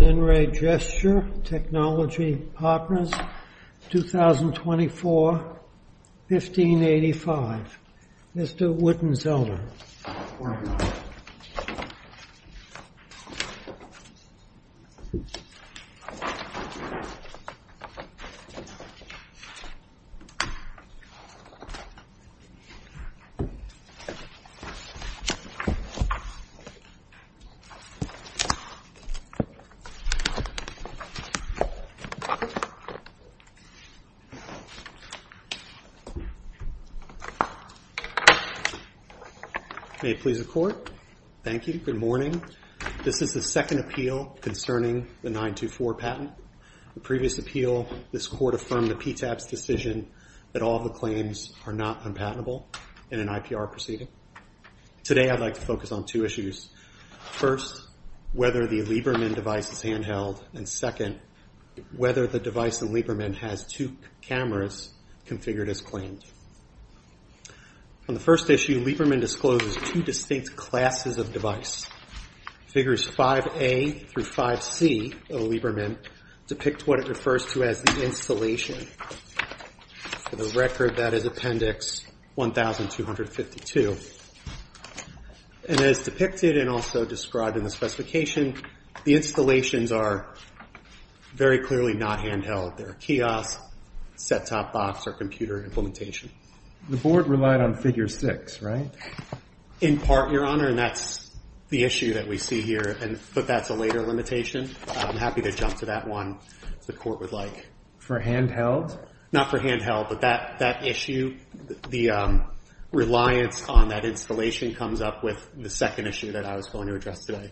In Re. Gesture Technology Partners, 2024-1585, Mr. Wittenzelder. Mr. Wittenzelder. May it please the Court. Thank you. Good morning. This is the second appeal concerning the 924 patent. The previous appeal, this Court affirmed the PTAB's decision that all the claims are not unpatentable in an IPR proceeding. Today, I'd like to focus on two issues. First, whether the Lieberman device is handheld, and second, whether the device in Lieberman has two cameras configured as claimed. On the first issue, Lieberman discloses two distinct classes of device. Figures 5A through 5C of Lieberman depict what it refers to as the installation. For the record, that is Appendix 1252. As depicted and also described in the specification, the installations are very clearly not handheld. They're a kiosk, set-top box, or computer implementation. The Board relied on figure 6, right? In part, Your Honor, and that's the issue that we see here, but that's a later limitation. I'm happy to jump to that one, if the Court would like. For handheld? Not for handheld, but that issue, the reliance on that installation comes up with the second issue that I was going to address today.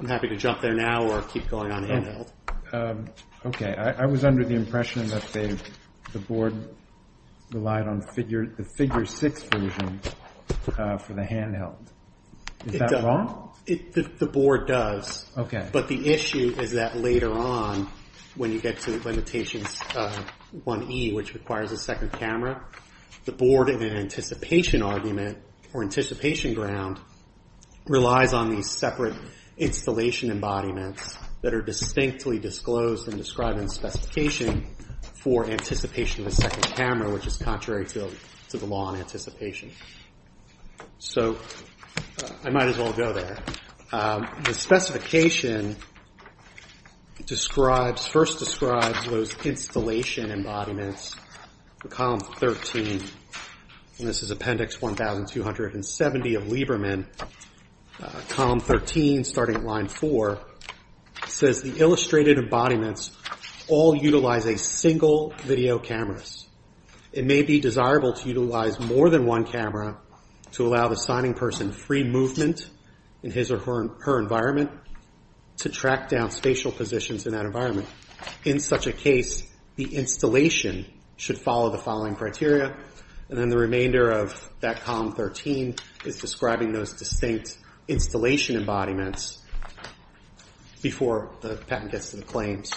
I'm happy to jump there now or keep going on handheld. Okay. I was under the impression that the Board relied on the figure 6 version for the handheld. Is that wrong? The Board does, but the issue is that later on, when you get to Limitations 1E, which requires a second camera, the Board, in an anticipation argument or anticipation ground, relies on these separate installation embodiments that are distinctly disclosed and described in the specification for anticipation of a second camera, which is contrary to the law on anticipation. I might as well go there. The specification first describes those installation embodiments, Column 13. This is Appendix 1270 of Lieberman, Column 13, starting at line 4. It says, to allow the signing person free movement in his or her environment to track down spatial positions in that environment. In such a case, the installation should follow the following criteria, and then the remainder of that Column 13 is describing those distinct installation embodiments before the patent gets to the claims.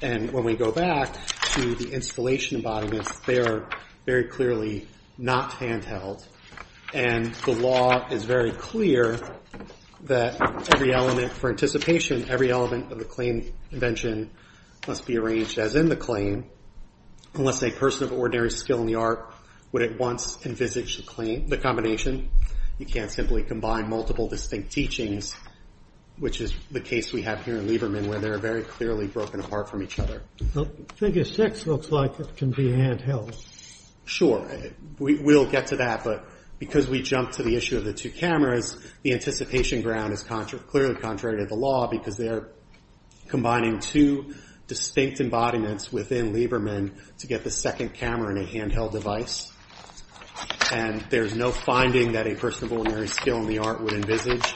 When we go back to the installation embodiments, they are very clearly not handheld, and the law is very clear that for anticipation, every element of the claim invention must be arranged as in the claim, unless a person of ordinary skill in the art would at once envisage the combination. You can't simply combine multiple distinct teachings, which is the case we have here in Lieberman, where they are very clearly broken apart from each other. Figure 6 looks like it can be handheld. Sure, we'll get to that, but because we jumped to the issue of the two cameras, the anticipation ground is clearly contrary to the law because they are combining two distinct embodiments within Lieberman to get the second camera in a handheld device, and there's no finding that a person of ordinary skill in the art would envisage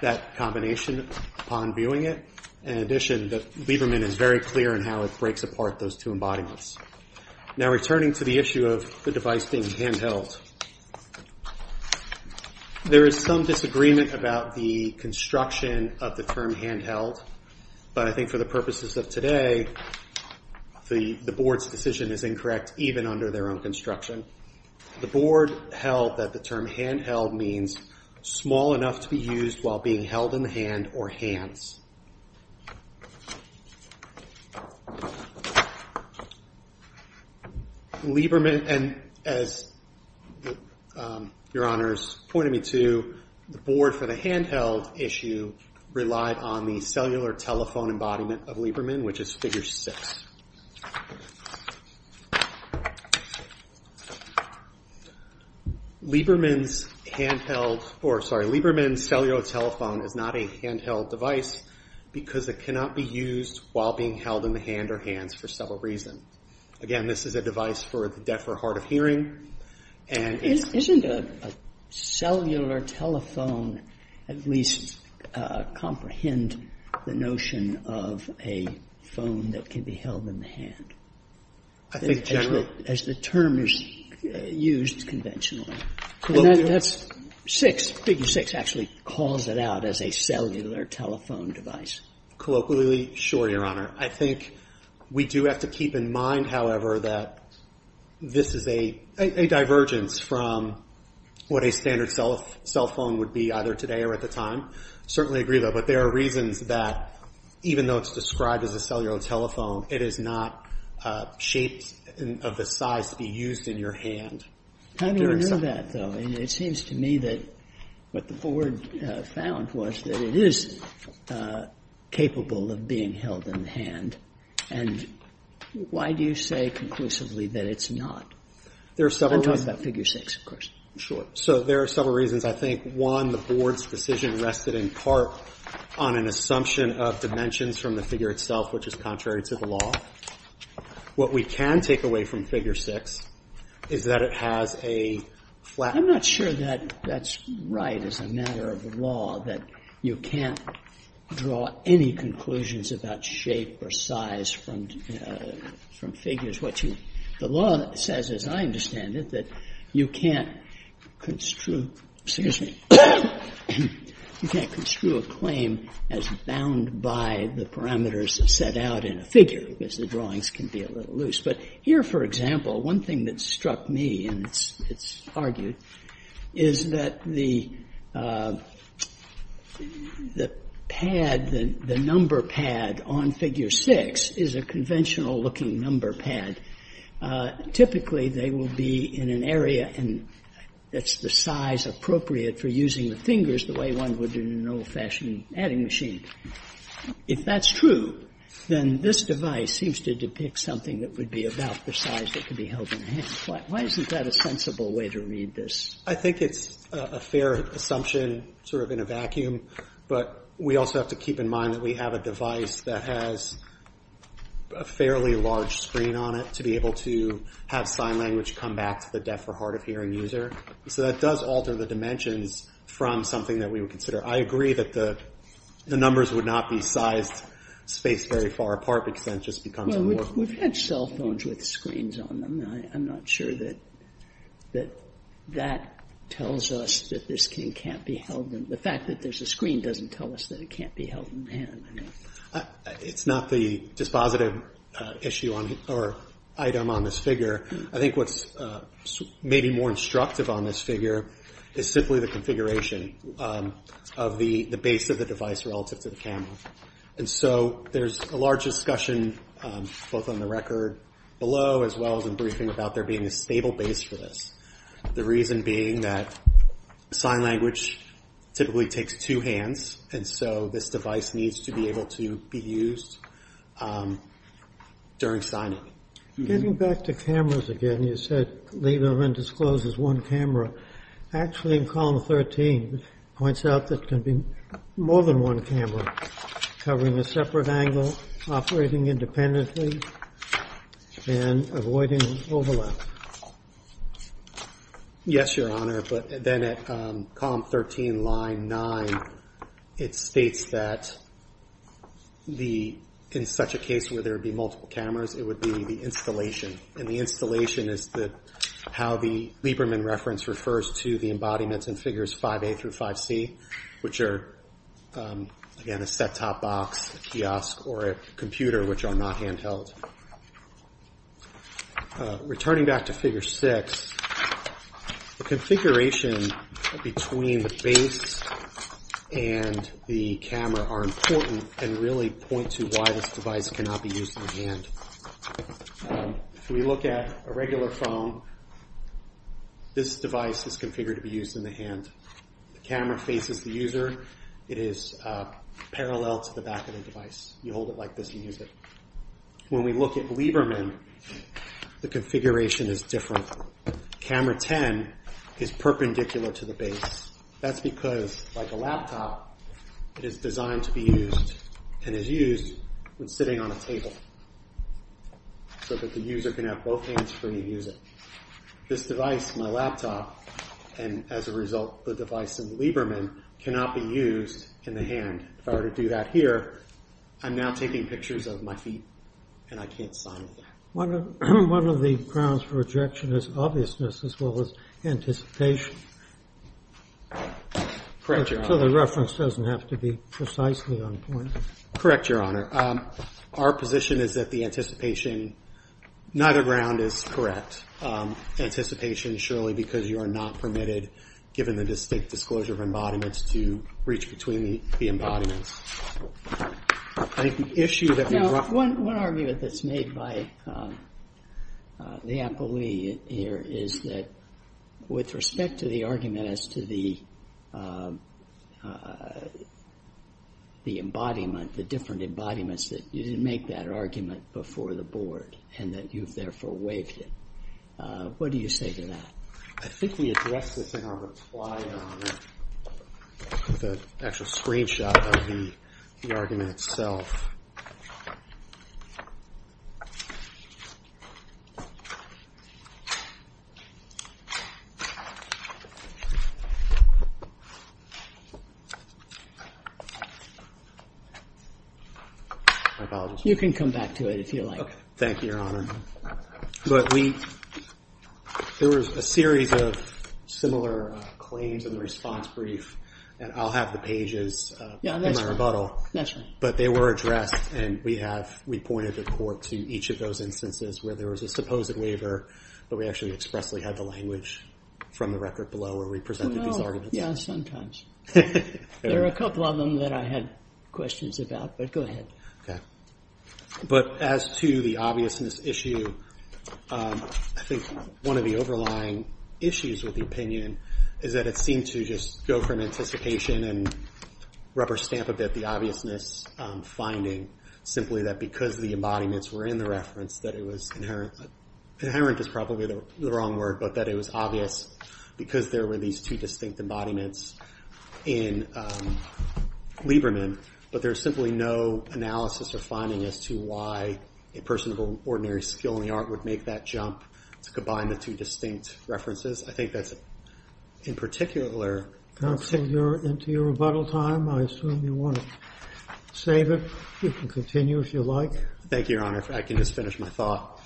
that combination upon viewing it. In addition, Lieberman is very clear in how it breaks apart those two embodiments. Returning to the issue of the device being handheld, there is some disagreement about the construction of the term handheld, but I think for the purposes of today, the Board's term handheld means small enough to be used while being held in the hand or hands. Lieberman, and as Your Honors pointed me to, the Board for the handheld issue relied on the cellular telephone embodiment of Lieberman, which is figure 6. Lieberman's cellular telephone is not a handheld device because it cannot be used while being held in the hand or hands for several reasons. Again, this is a device for the deaf or hard of hearing. Isn't a cellular telephone at least comprehend the notion of a phone that can be held in the hand? I think generally. As the term is used conventionally. And that's 6, figure 6 actually calls it out as a cellular telephone device. Colloquially, sure, Your Honor. I think we do have to keep in mind, however, that this is a divergence from what a standard cell phone would be either today or at the time. I certainly agree with that. But there are reasons that even though it's described as a cellular telephone, it is not shaped of the size to be used in your hand. How do you know that, though? It seems to me that what the Board found was that it is capable of being held in the hand. And why do you say conclusively that it's not? There are several reasons. I'm talking about figure 6, of course. Sure. So there are several reasons. I think, one, the Board's decision rested in part on an assumption of dimensions from the figure itself, which is contrary to the law. What we can take away from figure 6 is that it has a flat. I'm not sure that that's right as a matter of law, that you can't draw any conclusions about shape or size from figures. The law says, as I understand it, that you can't construe a claim as bound by the parameters set out in a figure, because the drawings can be a little loose. But here, for example, one thing that struck me, and it's argued, is that the pad, the number pad on figure 6 is a conventional-looking number pad. Typically, they will be in an area that's the size appropriate for using the fingers the way one would in an old-fashioned adding machine. If that's true, then this device seems to depict something that would be about the size that could be held in the hand. Why isn't that a sensible way to read this? I think it's a fair assumption, sort of in a vacuum, but we also have to keep in mind that we have a device that has a fairly large screen on it to be able to have sign language come back to the deaf or hard-of-hearing user. So that does alter the dimensions from something that we would consider. I agree that the numbers would not be sized spaced very far apart, because then it just becomes more. Sotomayor We've had cell phones with screens on them. I'm not sure that that tells us that this can't be held in the hand. The fact that there's a screen doesn't tell us that it can't be held in the hand. It's not the dispositive item on this figure. I think what's maybe more instructive on this figure is simply the configuration of the base of the device relative to the camera. There's a large discussion both on the record below as well as in briefing about there being a stable base for this. The reason being that sign language typically takes two hands. So this device needs to be able to be used during signing. Getting back to cameras again, you said leave them undisclosed as one camera. Actually in column 13, it points out that there can be more than one camera covering a separate angle, operating independently, and avoiding overlap. Yes, Your Honor, but then at column 13, line 9, it states that in such a case where there would be multiple cameras, it would be the installation. The installation is how the Lieberman reference refers to the embodiments in figures 5A through 5C, which are, again, a set-top box, a kiosk, or a computer, which are not handheld. Returning back to figure 6, the configuration between the base and the camera are important and really point to why this device cannot be used in the hand. If we look at a regular phone, this device is configured to be used in the hand. The camera faces the user. It is parallel to the back of the device. You hold it like this and use it. When we look at Lieberman, the configuration is different. Camera 10 is perpendicular to the base. That's because, like a laptop, it is designed to be used and is used when sitting on a table so that the user can have both hands free to use it. This device, my laptop, and, as a result, the device in Lieberman, cannot be used in the hand. If I were to do that here, I'm now taking pictures of my feet and I can't sign with them. One of the grounds for rejection is obviousness as well as anticipation. Correct, Your Honor. So the reference doesn't have to be precisely on point. Correct, Your Honor. Our position is that neither ground is correct. Anticipation, surely, because you are not permitted, given the distinct disclosure of embodiments, to reach between the embodiments. One argument that's made by the appellee here is that with respect to the argument as to the embodiment, the different embodiments, that you didn't make that argument before the board and that you've therefore waived it. What do you say to that? I think we addressed this in our reply on the actual screenshot of the argument itself. My apologies. You can come back to it if you like. Thank you, Your Honor. But there was a series of similar claims in the response brief, and I'll have the pages in my rebuttal. But they were addressed and we pointed the court to each of those instances where there was a supposed waiver, but we actually expressly had the language from the record below where we presented these arguments. But as to the obviousness issue, I think one of the overlying issues with the opinion is that it seemed to just go from anticipation and rubber stamp a bit the obviousness finding simply that because the embodiments were in the reference that it was inherent. Inherent is probably the wrong word, but that it was obvious because there were these two distinct embodiments in Lieberman, but there's simply no analysis or finding as to why a person of ordinary skill in the art would make that jump to combine the two distinct references. I think that's in particular... Counselor, you're into your rebuttal time. I assume you want to save it. You can continue if you like. Thank you, Your Honor. I can just finish my thought.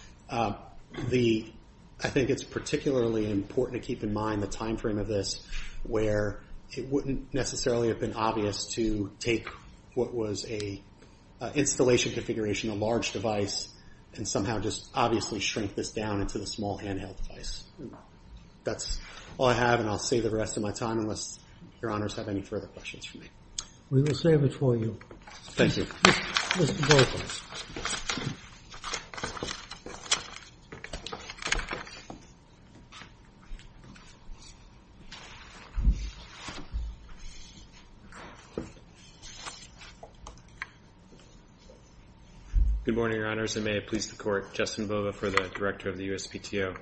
I think it's particularly important to keep in mind the timeframe of this where it wouldn't necessarily have been obvious to take what was an installation configuration, a large device, and somehow just obviously shrink this down into the small handheld device. That's all I have, and I'll save the rest of my time unless Your Honors have any further questions for me. We will save it for you. Thank you. Mr. Bova. Good morning, Your Honors, and may it please the Court. Justin Bova for the Director of the USPTO.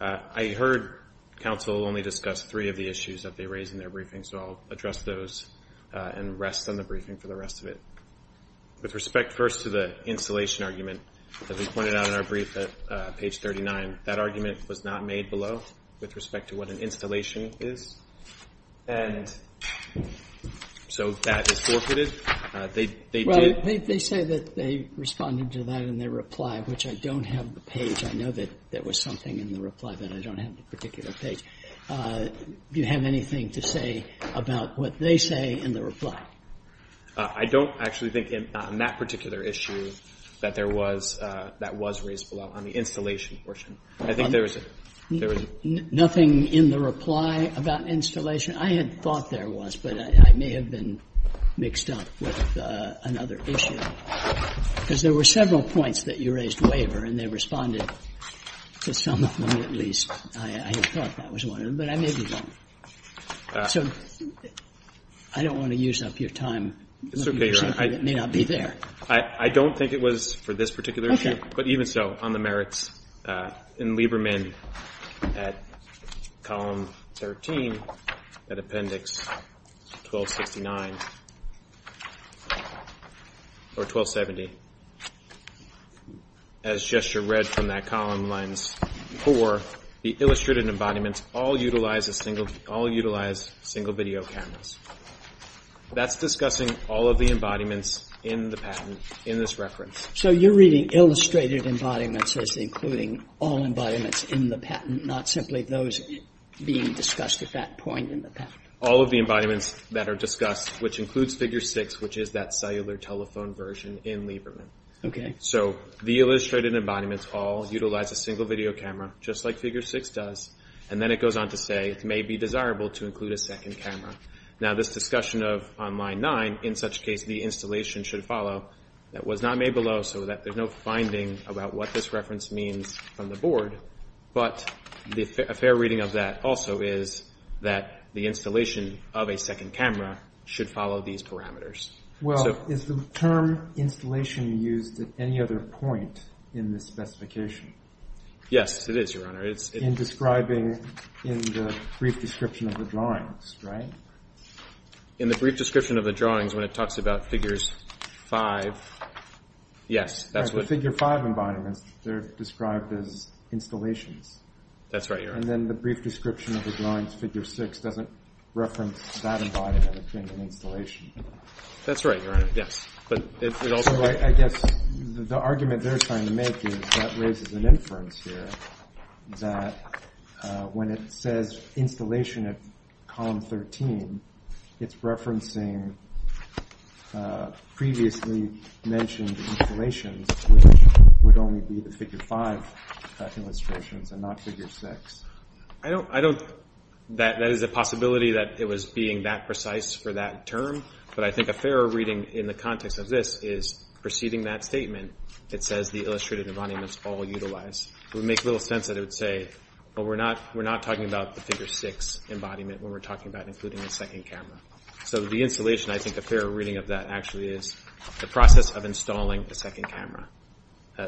I heard counsel only discuss three of the issues that they raised in their briefing, so I'll address those and rest on the briefing for the rest of it. With respect first to the installation argument, as we pointed out in our brief at page 39, that argument was not made below with respect to what an installation is, and so that is forfeited. Well, they say that they responded to that in their reply, which I don't have the page. I know that there was something in the reply that I don't have the particular page. Do you have anything to say about what they say in the reply? I don't actually think on that particular issue that that was raised below on the installation portion. I think there was nothing in the reply about installation. I had thought there was, but I may have been mixed up with another issue, because there were several points that you raised waiver and they responded to some of them at least. I had thought that was one of them, but I maybe don't. So I don't want to use up your time. It's okay, Your Honor. It may not be there. I don't think it was for this particular issue, but even so, on the merits in Lieberman at column 13, at appendix 1269 or 1270, as gesture read from that column, lines 4, the illustrated embodiments all utilize single video cameras. That's discussing all of the embodiments in the patent in this reference. So you're reading illustrated embodiments as including all embodiments in the patent, not simply those being discussed at that point in the patent? All of the embodiments that are discussed, which includes figure 6, which is that cellular telephone version in Lieberman. So the illustrated embodiments all utilize a single video camera, just like figure 6 does, and then it goes on to say it may be desirable to include a second camera. Now this discussion of on line 9, in such case the installation should follow, that was not made below, so that there's no finding about what this reference means from the board, but a fair reading of that also is that the installation of a second camera should follow these parameters. Well, is the term installation used at any other point in the specification? Yes, it is, Your Honor. In describing in the brief description of the drawings, right? In the brief description of the drawings, when it talks about figures 5, yes. The figure 5 embodiments, they're described as installations. That's right, Your Honor. And then the brief description of the drawings, figure 6, doesn't reference that embodiment as being an installation. That's right, Your Honor, yes. I guess the argument they're trying to make is that raises an inference here that when it says installation at column 13, it's referencing previously mentioned installations, which would only be the figure 5 illustrations and not figure 6. I don't, that is a possibility that it was being that precise for that term, but I think a fair reading in the context of this is preceding that statement, it says the illustrated embodiments all utilize. It would make little sense that it would say, well, we're not talking about the figure 6 embodiment when we're talking about including a second camera. So the installation, I think a fair reading of that actually is the process of installing the second camera.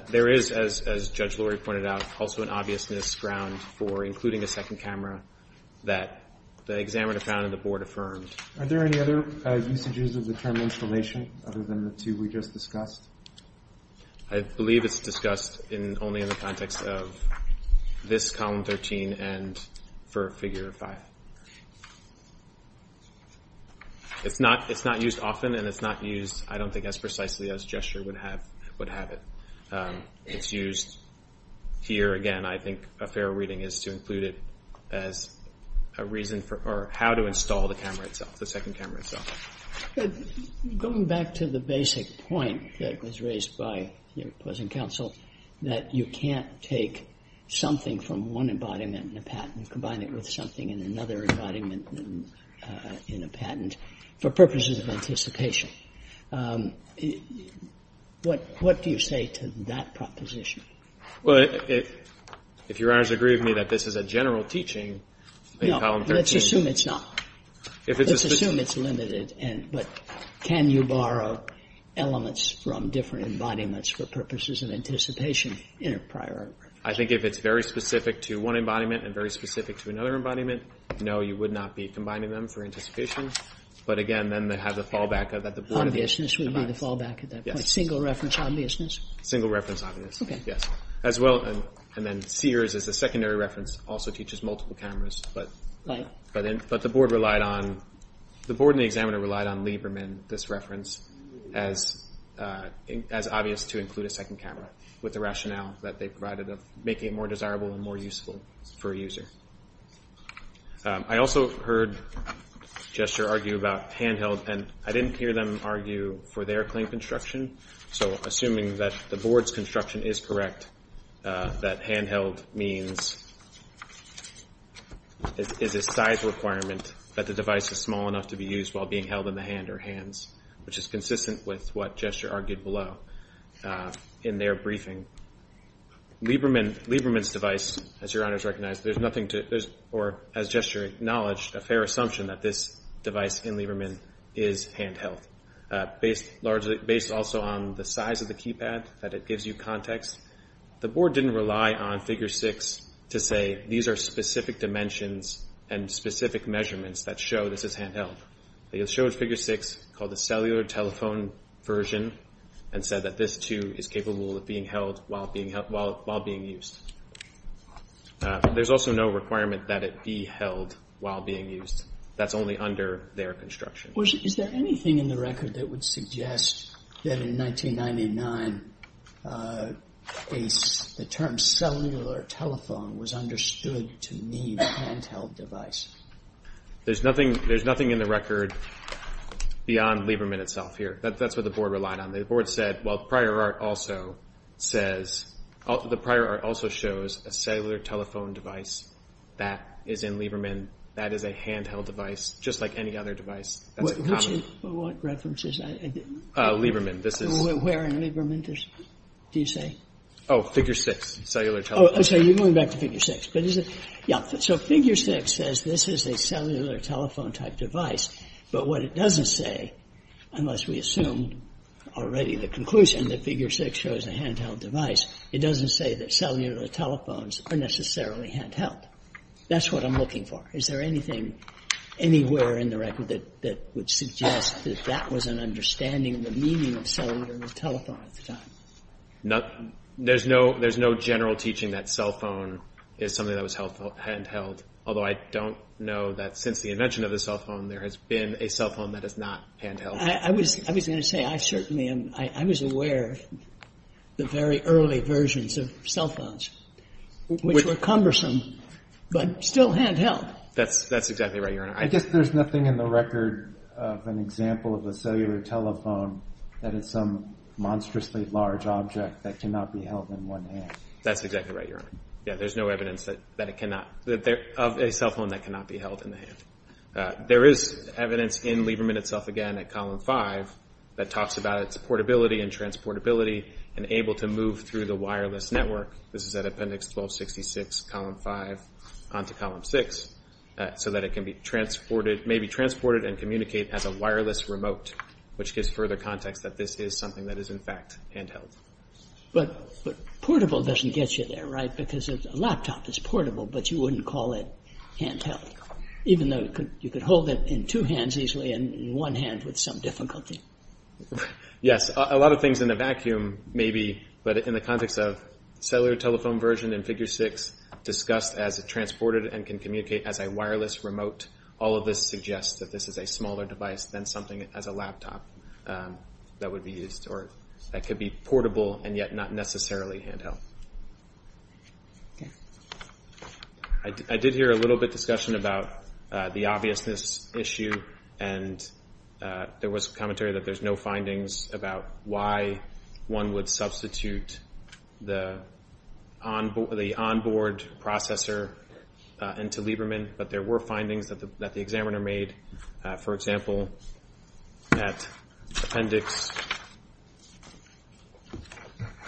There is, as Judge Lori pointed out, also an obviousness ground for including a second camera that the examiner found and the board affirmed. Are there any other usages of the term installation other than the two we just discussed? I believe it's discussed only in the context of this column 13 and for figure 5. It's not used often and it's not used, I don't think, as precisely as gesture would have it. It's used here, again, I think a fair reading is to include it as a reason for, or how to install the camera itself, the second camera itself. Going back to the basic point that was raised by your opposing counsel, that you can't take something from one embodiment in a patent and combine it with something in another embodiment in a patent for purposes of anticipation. What do you say to that proposition? No. Let's assume it's not. Let's assume it's limited. But can you borrow elements from different embodiments for purposes of anticipation in a prior? No, you would not be combining them for anticipation. Obviousness would be the fallback at that point. Single reference obviousness. Sears, as a secondary reference, also teaches multiple cameras. The board and the examiner relied on Lieberman, this reference, as obvious to include a second camera with the rationale that they provided of making it more desirable and more useful for a user. I also heard Gesture argue about handheld, and I didn't hear them argue for their claim construction, so assuming that the board's construction is correct, that handheld means is a size requirement that the device is small enough to be used while being held in the hand or hands, which is consistent with what Gesture argued below in their briefing. Lieberman's device, as Your Honors recognize, there's nothing to, or as Gesture acknowledged, a fair assumption that this device in Lieberman is handheld. Based also on the size of the keypad, that it gives you context. The board didn't rely on Figure 6 to say, these are specific dimensions and specific measurements that show this is handheld. They showed Figure 6, called the cellular telephone version, and said that this too is capable of being held while being used. There's also no requirement that it be held while being used. That's only under their construction. Is there anything in the record that would suggest that in 1999 the term cellular telephone was understood to mean handheld device? There's nothing in the record beyond Lieberman itself here. That's what the board relied on. The board said, well, the prior art also shows a cellular telephone device that is in Lieberman that is a handheld device, just like any other device. What reference is that? Lieberman. Where in Lieberman do you say? Oh, Figure 6, cellular telephone. So you're going back to Figure 6. So Figure 6 says this is a cellular telephone type device, but what it doesn't say, unless we assume already the conclusion that Figure 6 shows a handheld device, it doesn't say that cellular telephones are necessarily handheld. That's what I'm looking for. Is there anything anywhere in the record that would suggest that that was an understanding of the meaning of cellular telephone at the time? There's no general teaching that cell phone is something that was handheld, although I don't know that since the invention of the cell phone there has been a cell phone that is not handheld. I was going to say, I certainly am, I was aware of the very early versions of cell phones, which were cumbersome, but still handheld. That's exactly right, Your Honor. I guess there's nothing in the record of an example of a cellular telephone that is some monstrously large object that cannot be held in one hand. That's exactly right, Your Honor. Yeah, there's no evidence that it cannot, of a cell phone that cannot be held in the hand. There is evidence in Lieberman itself, again, at Column 5, that talks about its portability and transportability and able to move through the wireless network. This is at Appendix 1266, Column 5, onto Column 6, so that it can be transported, may be transported and communicate as a wireless remote, which gives further context that this is something that is in fact handheld. But portable doesn't get you there, right? Because a laptop is portable, but you wouldn't call it handheld. Even though you could hold it in two hands easily and in one hand with some difficulty. Yes, a lot of things in a vacuum, maybe, but in the context of cellular telephone version in Figure 6, discussed as transported and can communicate as a wireless remote, all of this suggests that this is a smaller device than something as a laptop that would be used, or that could be portable and yet not necessarily handheld. I did hear a little bit of discussion about the obviousness issue, and there was commentary that there's no findings about why one would substitute the on-board processor into Lieberman, but there were findings that the examiner made. For example, at Appendix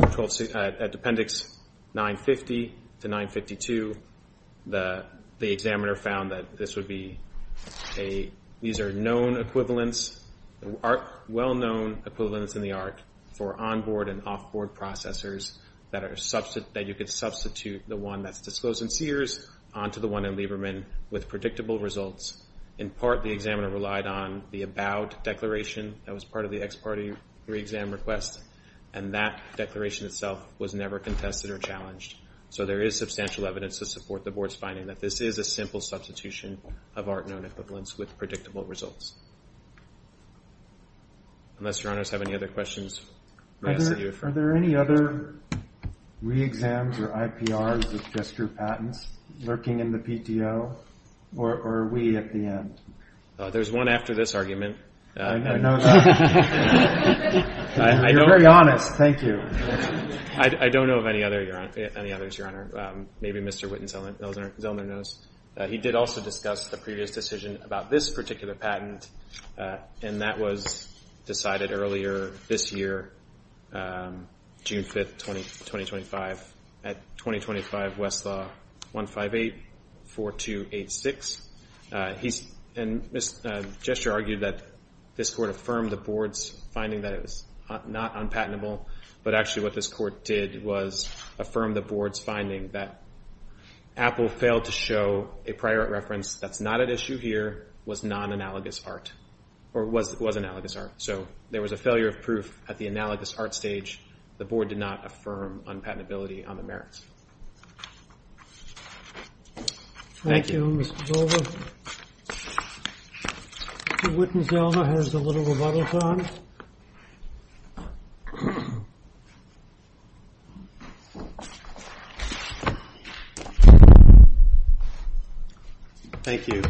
1266, at Appendix 1266, 950 to 952, the examiner found that this would be a, these are known equivalents, well-known equivalents in the art, for on-board and off-board processors that you could substitute the one that's disclosed in Sears onto the one in Lieberman with predictable results. In part, the examiner relied on the about declaration that was part of the ex-parte 3 exam request, and that declaration itself was never contested or challenged, so there is substantial evidence to support the board's finding that this is a simple substitution of art-known equivalents with predictable results. Unless your honors have any other questions. Are there any other re-exams or IPRs that just drew patents lurking in the PTO, or are we at the end? There's one after this argument. You're very honest, thank you. I don't know of any others, Your Honor. Maybe Mr. Zellner knows. He did also discuss the previous decision about this particular patent, and that was decided earlier this year, June 5th, 2025, at 2025 Westlaw 158-4286. And Mr. Gesture argued that this court affirmed the board's finding that it was not unpatentable, but actually what this court did was affirm the board's finding that Apple failed to show a prior art reference that's not at issue here was non-analogous art, or was analogous art. So there was a failure of proof at the analogous art stage. The board did not affirm unpatentability on the merits. Thank you, Mr. Zellner. Mr. Zellner has a little rebuttal time. Thank you.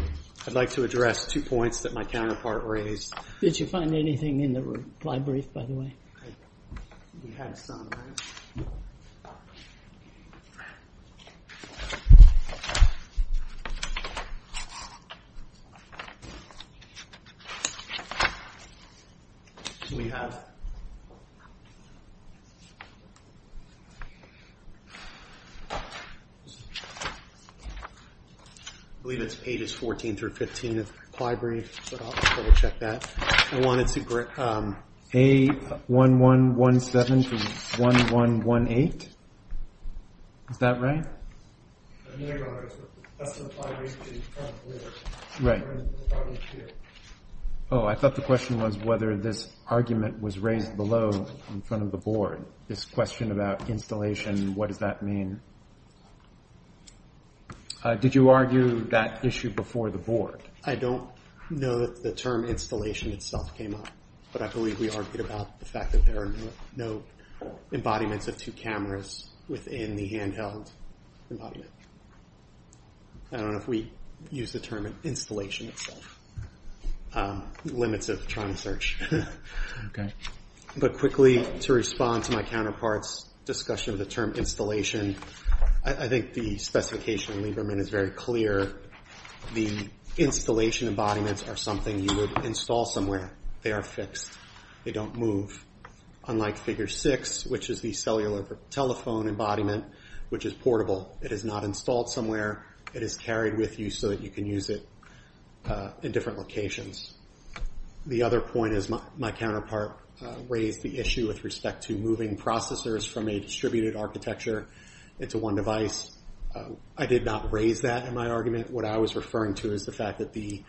I'd like to address two points that my counterpart raised. Did you find anything in the reply brief, by the way? We had some. I believe it's pages 14 through 15 of the reply brief, but I'll double check that. A1117 to 1118. Is that right? Oh, I thought the question was whether this argument was raised below in front of the board. This question about installation, what does that mean? Did you argue that issue before the board? No, I don't think the term installation itself came up, but I believe we argued about the fact that there are no embodiments of two cameras within the handheld embodiment. I don't know if we use the term installation itself. Limits of trying to search. But quickly, to respond to my counterpart's discussion of the term installation, I think the specification in Lieberman is very clear. The installation embodiments are something you would install somewhere. They are fixed. They don't move. Unlike figure six, which is the cellular telephone embodiment, which is portable. It is not installed somewhere. It is carried with you so that you can use it in different locations. The other point is my counterpart raised the issue with respect to moving processors from a distributed architecture into one device. I did not raise that in my argument. What I was referring to is the fact that the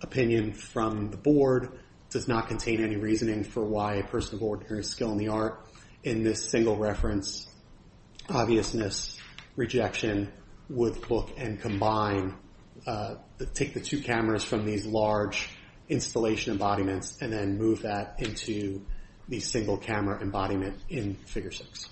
opinion from the board does not contain any reasoning for why a person of ordinary skill in the art in this single reference, obviousness, rejection, would look and combine, take the two cameras from these large installation embodiments and then move that into the single camera embodiment in figure six.